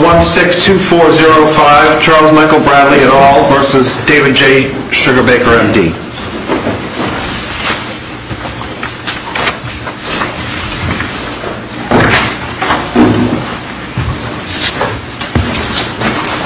162405 Charles Michael Bradley et al. v. David J. Sugarbaker, M.D.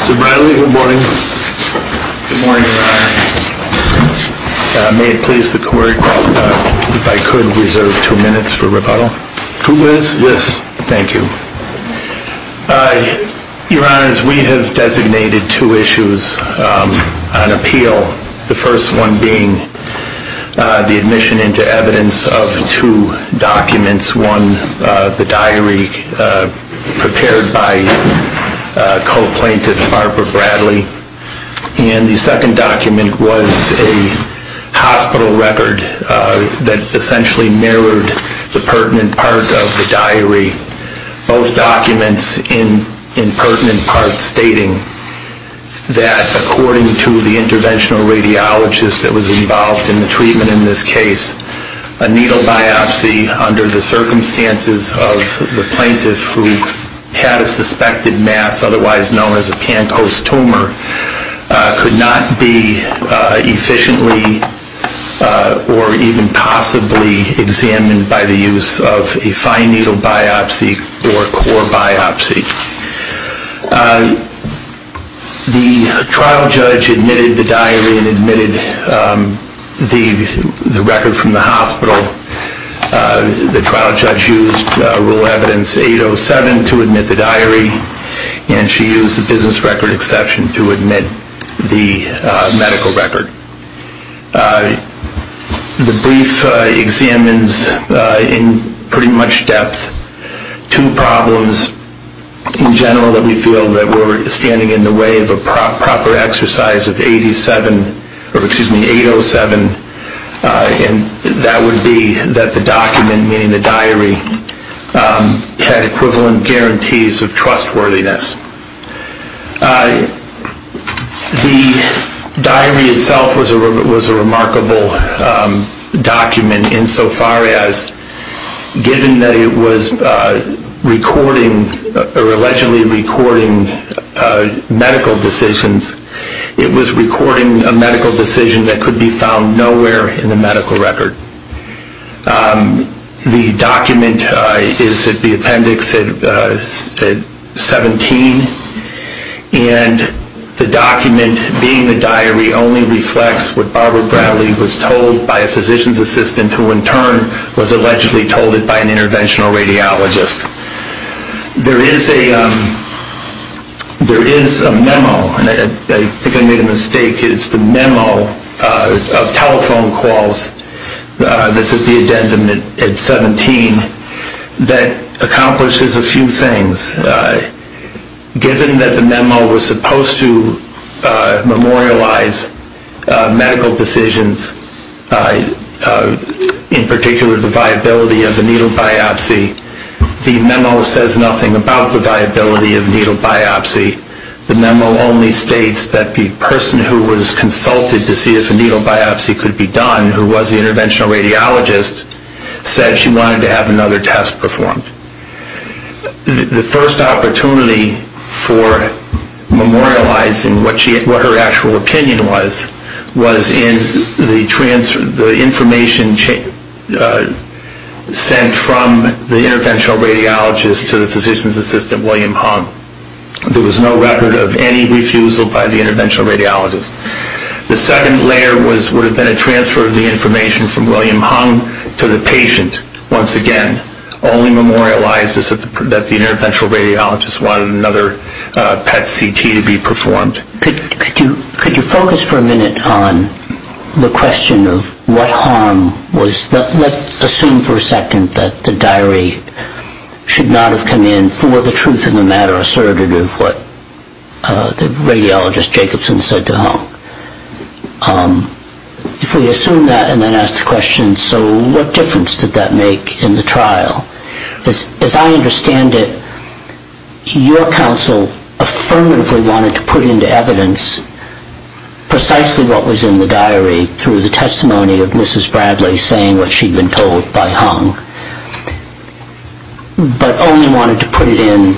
Mr. Bradley, good morning. Good morning, sir. May it please the court if I could reserve two minutes for rebuttal? Two minutes? Yes. Thank you. Your Honors, we have designated two issues on appeal. The first one being the admission into evidence of two documents. One, the diary prepared by co-plaintiff Harper Bradley. And the second document was a hospital record that essentially mirrored the pertinent part of the diary. Both documents in pertinent part stating that according to the interventional radiologist that was involved in the treatment in this case, a needle biopsy under the circumstances of the plaintiff who had a suspected mass otherwise known as a Pankos tumor could not be efficiently or even possibly examined by the use of a fine needle biopsy or core biopsy. The trial judge admitted the diary and admitted the record from the hospital. The trial judge used Rule Evidence 807 to admit the diary and she used the business record exception to admit the medical record. The brief examines in pretty much depth two problems in general that we feel that we're standing in the way of a proper exercise of 807. And that would be that the document, meaning the diary, had equivalent guarantees of trustworthiness. The diary itself was a remarkable document insofar as given that it was allegedly recording medical decisions, it was recording a medical decision that could be found nowhere in the medical record. The document is at the appendix 17 and the document being the diary only reflects what Barbara Bradley was told by a physician's assistant who in turn was allegedly told it by an interventional radiologist. There is a memo, I think I made a mistake, it's the memo of telephone calls that's at the addendum at 17 that accomplishes a few things. Given that the memo was supposed to memorialize medical decisions, in particular the viability of a needle biopsy, the memo says nothing about the viability of a needle biopsy. The memo only states that the person who was consulted to see if a needle biopsy could be done, who was the interventional radiologist, said she wanted to have another test performed. The first opportunity for memorializing what her actual opinion was, was in the information sent from the interventional radiologist to the physician's assistant, William Hung. There was no record of any refusal by the interventional radiologist. The second layer would have been a transfer of the information from William Hung to the patient, once again, only memorializes that the interventional radiologist wanted another PET CT to be performed. Could you focus for a minute on the question of what Hung was, Let's assume for a second that the diary should not have come in for the truth of the matter asserted of what the radiologist Jacobson said to Hung. If we assume that and then ask the question, so what difference did that make in the trial? As I understand it, your counsel affirmatively wanted to put into evidence precisely what was in the diary through the testimony of Mrs. Bradley saying what she'd been told by Hung, but only wanted to put it in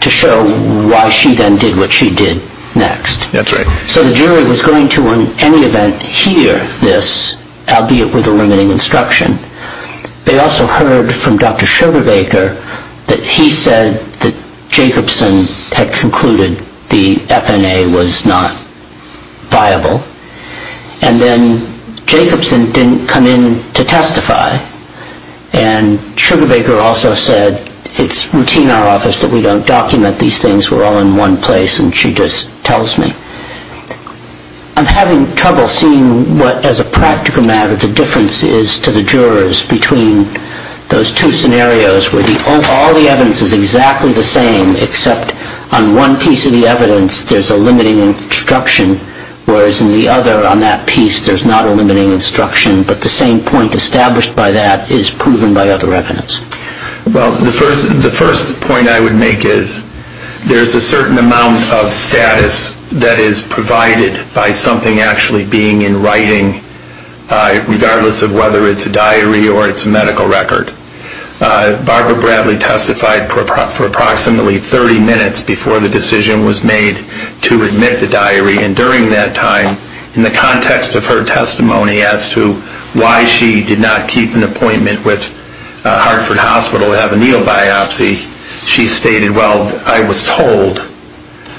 to show why she then did what she did next. That's right. So the jury was going to, in any event, hear this, albeit with a limiting instruction. They also heard from Dr. Sugarbaker that he said that Jacobson had concluded the FNA was not viable, and then Jacobson didn't come in to testify. And Sugarbaker also said it's routine in our office that we don't document these things. We're all in one place, and she just tells me. I'm having trouble seeing what, as a practical matter, the difference is to the jurors between those two scenarios where all the evidence is exactly the same, except on one piece of the evidence there's a limiting instruction, whereas on the other, on that piece, there's not a limiting instruction, but the same point established by that is proven by other evidence. Well, the first point I would make is there's a certain amount of status that is provided by something actually being in writing, regardless of whether it's a diary or it's a medical record. Barbara Bradley testified for approximately 30 minutes before the decision was made to admit the diary, and during that time, in the context of her testimony as to why she did not keep an appointment with Hartford Hospital to have a needle biopsy, she stated, well, I was told,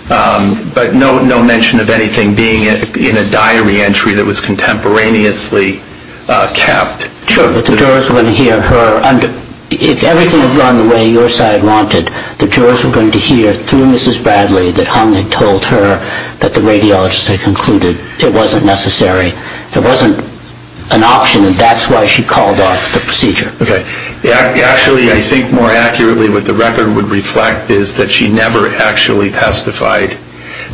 but no mention of anything being in a diary entry that was contemporaneously kept. Sure, but the jurors wouldn't hear her. If everything had gone the way your side wanted, the jurors were going to hear through Mrs. Bradley that Hung had told her that the radiologists had concluded it wasn't necessary, there wasn't an option, and that's why she called off the procedure. Actually, I think more accurately what the record would reflect is that she never actually testified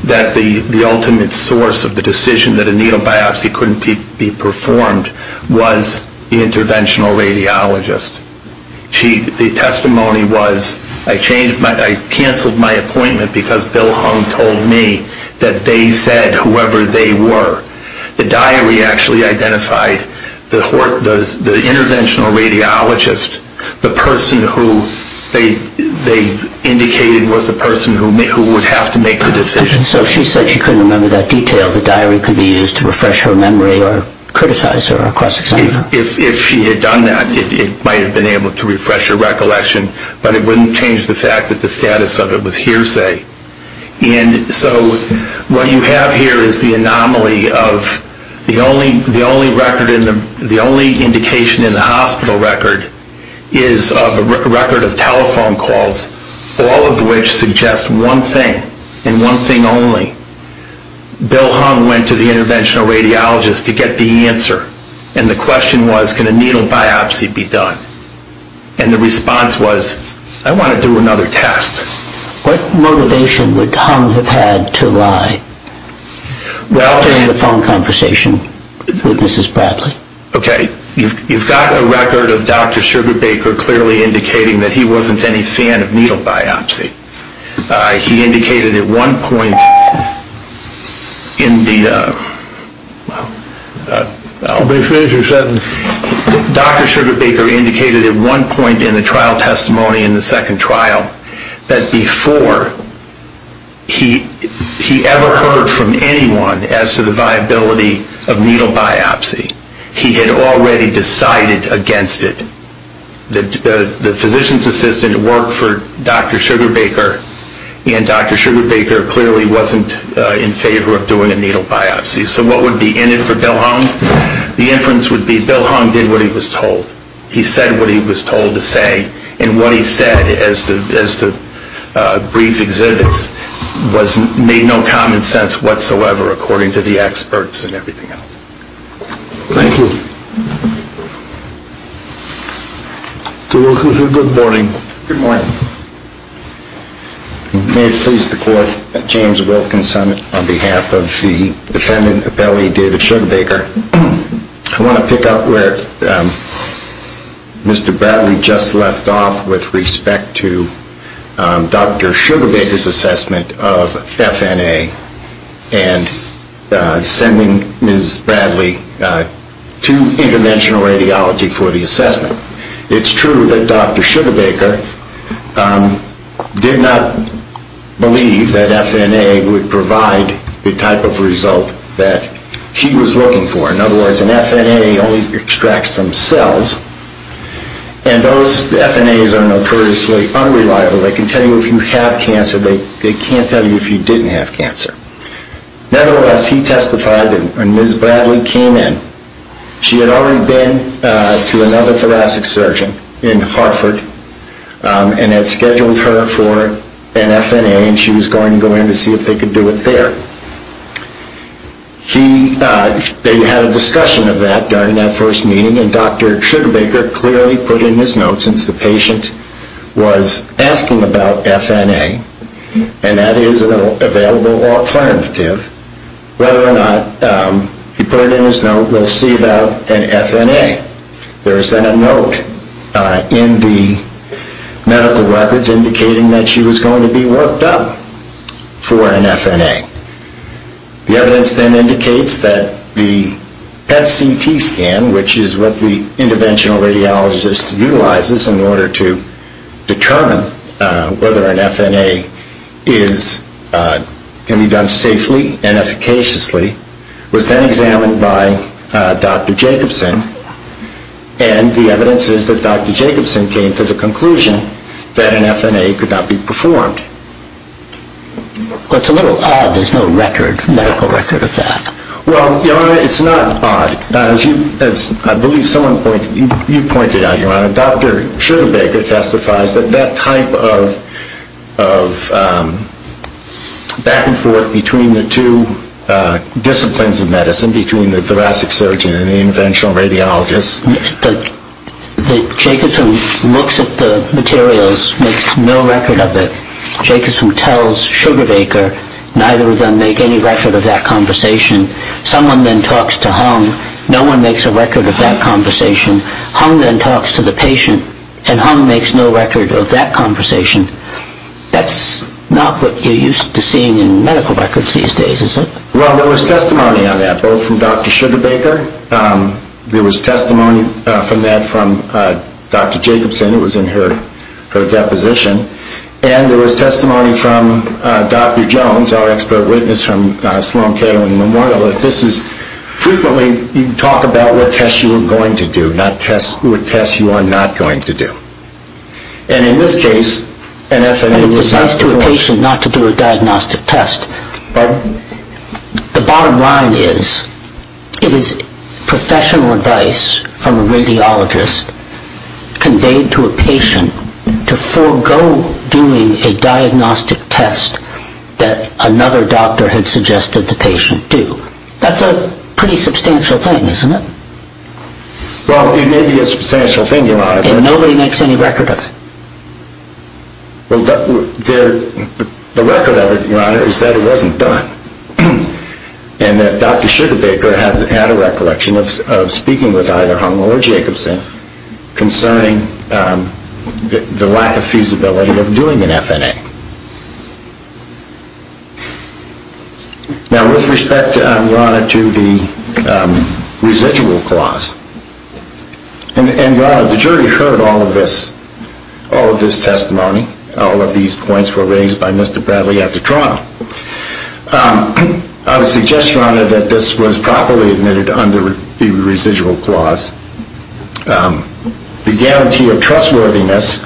that the ultimate source of the decision that a needle biopsy couldn't be performed was the interventional radiologist. The testimony was, I canceled my appointment because Bill Hung told me that they said whoever they were. The diary actually identified the interventional radiologist, the person who they indicated was the person who would have to make the decision. So she said she couldn't remember that detail. The diary could be used to refresh her memory or criticize her or cross-examine her. If she had done that, it might have been able to refresh her recollection, but it wouldn't change the fact that the status of it was hearsay. And so what you have here is the anomaly of the only indication in the hospital record is of a record of telephone calls, all of which suggest one thing and one thing only. Bill Hung went to the interventional radiologist to get the answer, and the question was, can a needle biopsy be done? And the response was, I want to do another test. What motivation would Hung have had to lie? Well, during the phone conversation with Mrs. Bradley. Okay, you've got a record of Dr. Sugarbaker clearly indicating that he wasn't any fan of needle biopsy. He indicated at one point in the trial testimony in the second trial that before he ever heard from anyone as to the viability of needle biopsy, he had already decided against it. The physician's assistant worked for Dr. Sugarbaker, and Dr. Sugarbaker clearly wasn't in favor of doing a needle biopsy. So what would be in it for Bill Hung? The inference would be Bill Hung did what he was told. He said what he was told to say, and what he said as the brief exhibits made no common sense whatsoever, according to the experts and everything else. Thank you. Mr. Wilkinson, good morning. Good morning. May it please the court, James Wilkinson on behalf of the defendant appellee David Sugarbaker. I want to pick up where Mr. Bradley just left off with respect to Dr. Sugarbaker's assessment of FNA and sending Ms. Bradley to interventional radiology for the assessment. It's true that Dr. Sugarbaker did not believe that FNA would provide the type of result that he was looking for. In other words, an FNA only extracts some cells, and those FNAs are notoriously unreliable. They can tell you if you have cancer. They can't tell you if you didn't have cancer. Nevertheless, he testified, and Ms. Bradley came in. She had already been to another thoracic surgeon in Hartford and had scheduled her for an FNA, and she was going to go in to see if they could do it there. They had a discussion of that during that first meeting, and Dr. Sugarbaker clearly put in his note, since the patient was asking about FNA, and that is an available alternative, whether or not he put it in his note, we'll see about an FNA. There is then a note in the medical records indicating that she was going to be worked up for an FNA. The evidence then indicates that the PET-CT scan, which is what the interventional radiologist utilizes in order to determine whether an FNA can be done safely and efficaciously, was then examined by Dr. Jacobson, and the evidence is that Dr. Jacobson came to the conclusion that an FNA could not be performed. Well, it's a little odd there's no medical record of that. Well, Your Honor, it's not odd. As I believe you pointed out, Your Honor, Dr. Sugarbaker testifies that that type of back and forth between the two disciplines of medicine, between the thoracic surgeon and the interventional radiologist, Jacobson looks at the materials, makes no record of it. Jacobson tells Sugarbaker, neither of them make any record of that conversation. Someone then talks to Hung. No one makes a record of that conversation. Hung then talks to the patient, and Hung makes no record of that conversation. That's not what you're used to seeing in medical records these days, is it? Well, there was testimony on that, both from Dr. Sugarbaker. There was testimony from that from Dr. Jacobson. It was in her deposition. And there was testimony from Dr. Jones, our expert witness from Sloan-Kettering Memorial, that this is frequently you talk about what tests you are going to do, not what tests you are not going to do. And in this case, an FNA was not performed. And it's advised to a patient not to do a diagnostic test. Pardon? The bottom line is, it is professional advice from a radiologist conveyed to a patient to forego doing a diagnostic test that another doctor had suggested the patient do. That's a pretty substantial thing, isn't it? Well, it may be a substantial thing, Your Honor. And nobody makes any record of it. Well, the record of it, Your Honor, is that it wasn't done. And Dr. Sugarbaker had a recollection of speaking with either Hung or Jacobson concerning the lack of feasibility of doing an FNA. Now, with respect, Your Honor, to the residual clause, and, Your Honor, the jury heard all of this testimony. All of these points were raised by Mr. Bradley at the trial. I would suggest, Your Honor, that this was properly admitted under the residual clause. The guarantee of trustworthiness,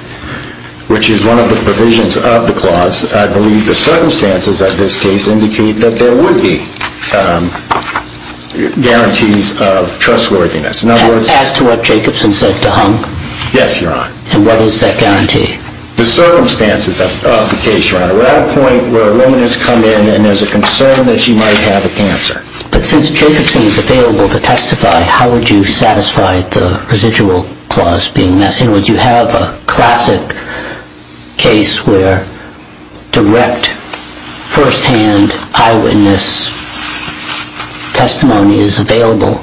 which is one of the provisions of the clause, I believe the circumstances of this case indicate that there would be guarantees of trustworthiness. As to what Jacobson said to Hung? Yes, Your Honor. And what is that guarantee? The circumstances of the case, Your Honor. We're at a point where a woman has come in and there's a concern that she might have a cancer. But since Jacobson is available to testify, how would you satisfy the residual clause being met? In other words, you have a classic case where direct, firsthand eyewitness testimony is available.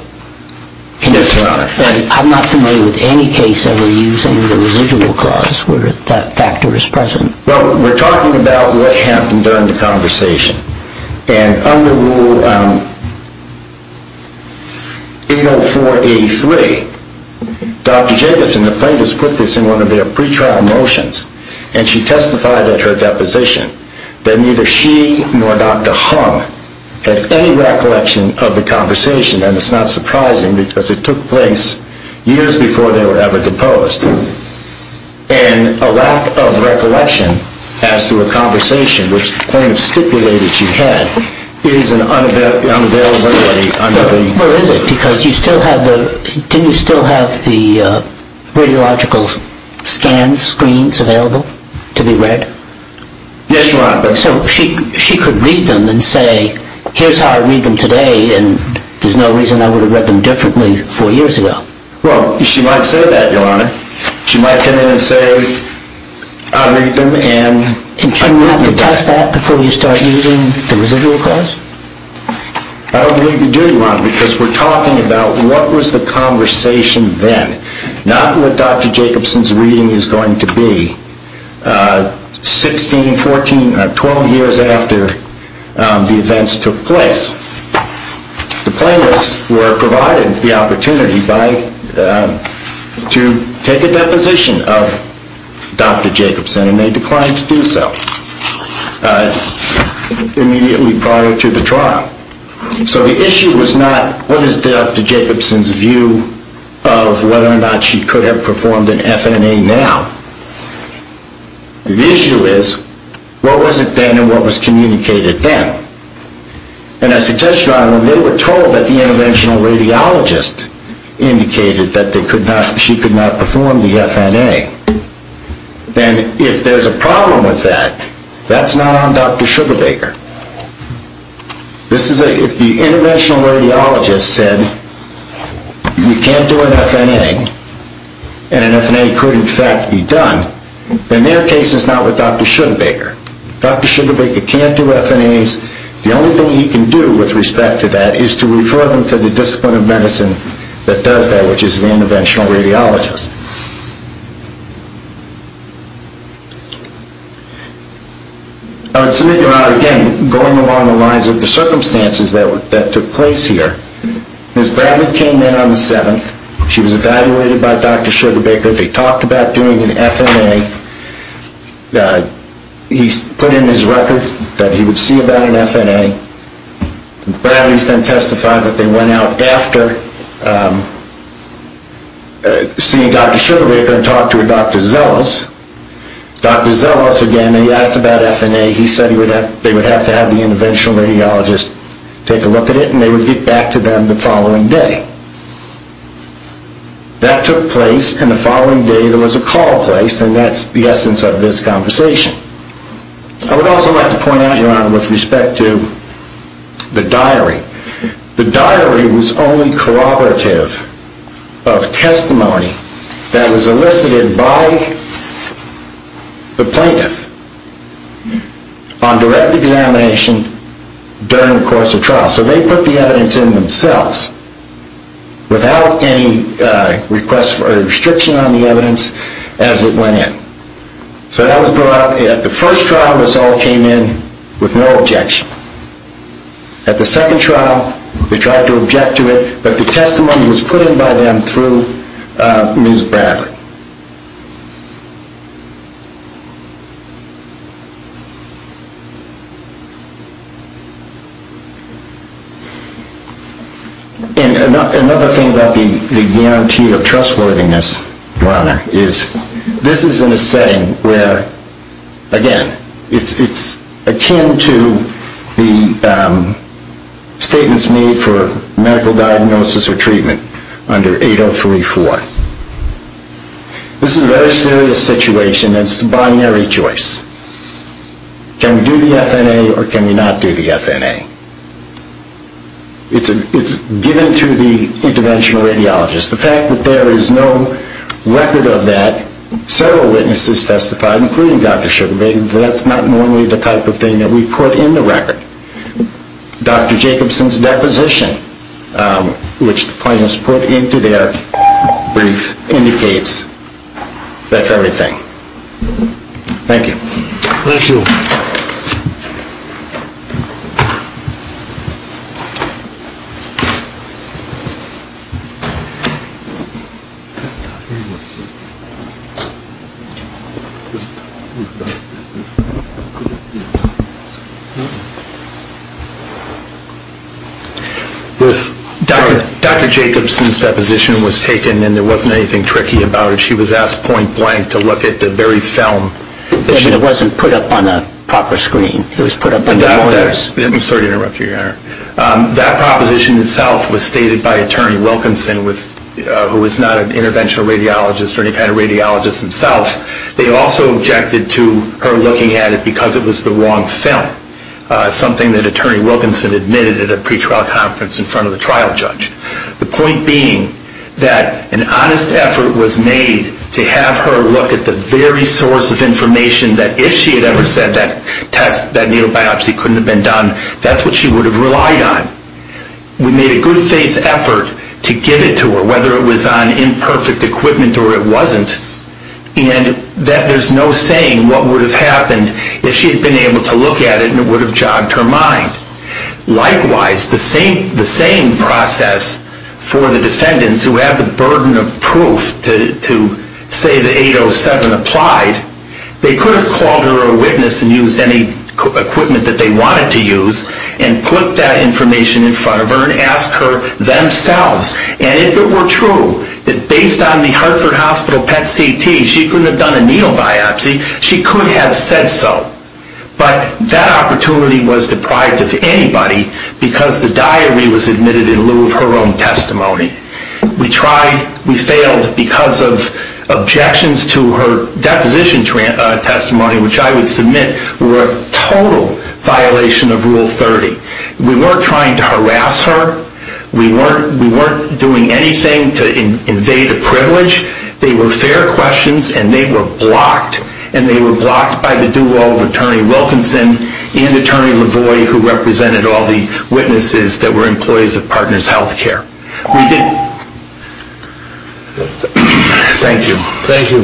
Yes, Your Honor. And I'm not familiar with any case ever using the residual clause where that factor is present. Well, we're talking about what happened during the conversation. And under Rule 804A3, Dr. Jacobson, the plaintiffs put this in one of their pretrial motions, and she testified at her deposition that neither she nor Dr. Hung had any recollection of the conversation, and it's not surprising because it took place years before they were ever deposed. And a lack of recollection as to a conversation, which the plaintiffs stipulated she had, is unavailable under the... Well, is it? Because you still have the... didn't you still have the radiological scan screens available to be read? Yes, Your Honor. So she could read them and say, here's how I read them today, and there's no reason I would have read them differently four years ago. Well, she might say that, Your Honor. She might come in and say, I'll read them and... And you have to test that before you start using the residual clause? I don't believe you do, Your Honor, because we're talking about what was the conversation then, not what Dr. Jacobson's reading is going to be 16, 14, 12 years after the events took place. The plaintiffs were provided the opportunity to take a deposition of Dr. Jacobson, and they declined to do so immediately prior to the trial. So the issue was not, what is Dr. Jacobson's view of whether or not she could have performed an FNA now? The issue is, what was it then and what was communicated then? And I suggest, Your Honor, when they were told that the interventional radiologist indicated that she could not perform the FNA, then if there's a problem with that, that's not on Dr. Sugarbaker. If the interventional radiologist said you can't do an FNA and an FNA could, in fact, be done, then their case is not with Dr. Sugarbaker. Dr. Sugarbaker can't do FNAs. The only thing he can do with respect to that is to refer them to the discipline of medicine that does that, which is the interventional radiologist. I would submit, Your Honor, again, going along the lines of the circumstances that took place here, Ms. Bradley came in on the 7th. She was evaluated by Dr. Sugarbaker. They talked about doing an FNA. He put in his record that he would see about an FNA. Ms. Bradley then testified that they went out after seeing Dr. Sugarbaker and talked to Dr. Zelos. Dr. Zelos, again, he asked about FNA. He said they would have to have the interventional radiologist take a look at it and they would get back to them the following day. That took place, and the following day there was a call placed, and that's the essence of this conversation. I would also like to point out, Your Honor, with respect to the diary. The diary was only corroborative of testimony that was elicited by the plaintiff on direct examination during the course of trial. So they put the evidence in themselves without any restriction on the evidence as it went in. So that was brought up. At the first trial, this all came in with no objection. At the second trial, they tried to object to it, but the testimony was put in by them through Ms. Bradley. And another thing about the guarantee of trustworthiness, Your Honor, is this is in a setting where, again, it's akin to the statements made for medical diagnosis or treatment under 8034. This is a very serious situation and it's a binary choice. Can we do the FNA or can we not do the FNA? It's given to the interventional radiologist. The fact that there is no record of that, several witnesses testified, including Dr. Sugarbee, that's not normally the type of thing that we put in the record. Dr. Jacobson's deposition, which the plaintiffs put into their brief, indicates that's everything. Thank you. Thank you. Dr. Jacobson's deposition was taken and there wasn't anything tricky about it. She was asked point blank to look at the very film. It wasn't put up on a proper screen. Sorry to interrupt you, Your Honor. That proposition itself was stated by Attorney Wilkinson, who was not an interventional radiologist or any kind of radiologist himself. They also objected to her looking at it because it was the wrong film, something that Attorney Wilkinson admitted at a pretrial conference in front of the trial judge. The point being that an honest effort was made to have her look at the very source of information that if she had ever said that test, that needle biopsy couldn't have been done, that's what she would have relied on. We made a good faith effort to give it to her, whether it was on imperfect equipment or it wasn't, and that there's no saying what would have happened if she had been able to look at it and it would have jogged her mind. Likewise, the same process for the defendants who have the burden of proof to say that 807 applied, they could have called her a witness and used any equipment that they wanted to use and put that information in front of her and asked her themselves. And if it were true that based on the Hartford Hospital PET CT, she couldn't have done a needle biopsy, she could have said so. But that opportunity was deprived of anybody because the diary was admitted in lieu of her own testimony. We tried, we failed because of objections to her deposition testimony, which I would submit were a total violation of Rule 30. We weren't trying to harass her, we weren't doing anything to invade a privilege, they were fair questions and they were blocked. And they were blocked by the duo of Attorney Wilkinson and Attorney LaVoy who represented all the witnesses that were employees of Partners Healthcare. Thank you. Thank you.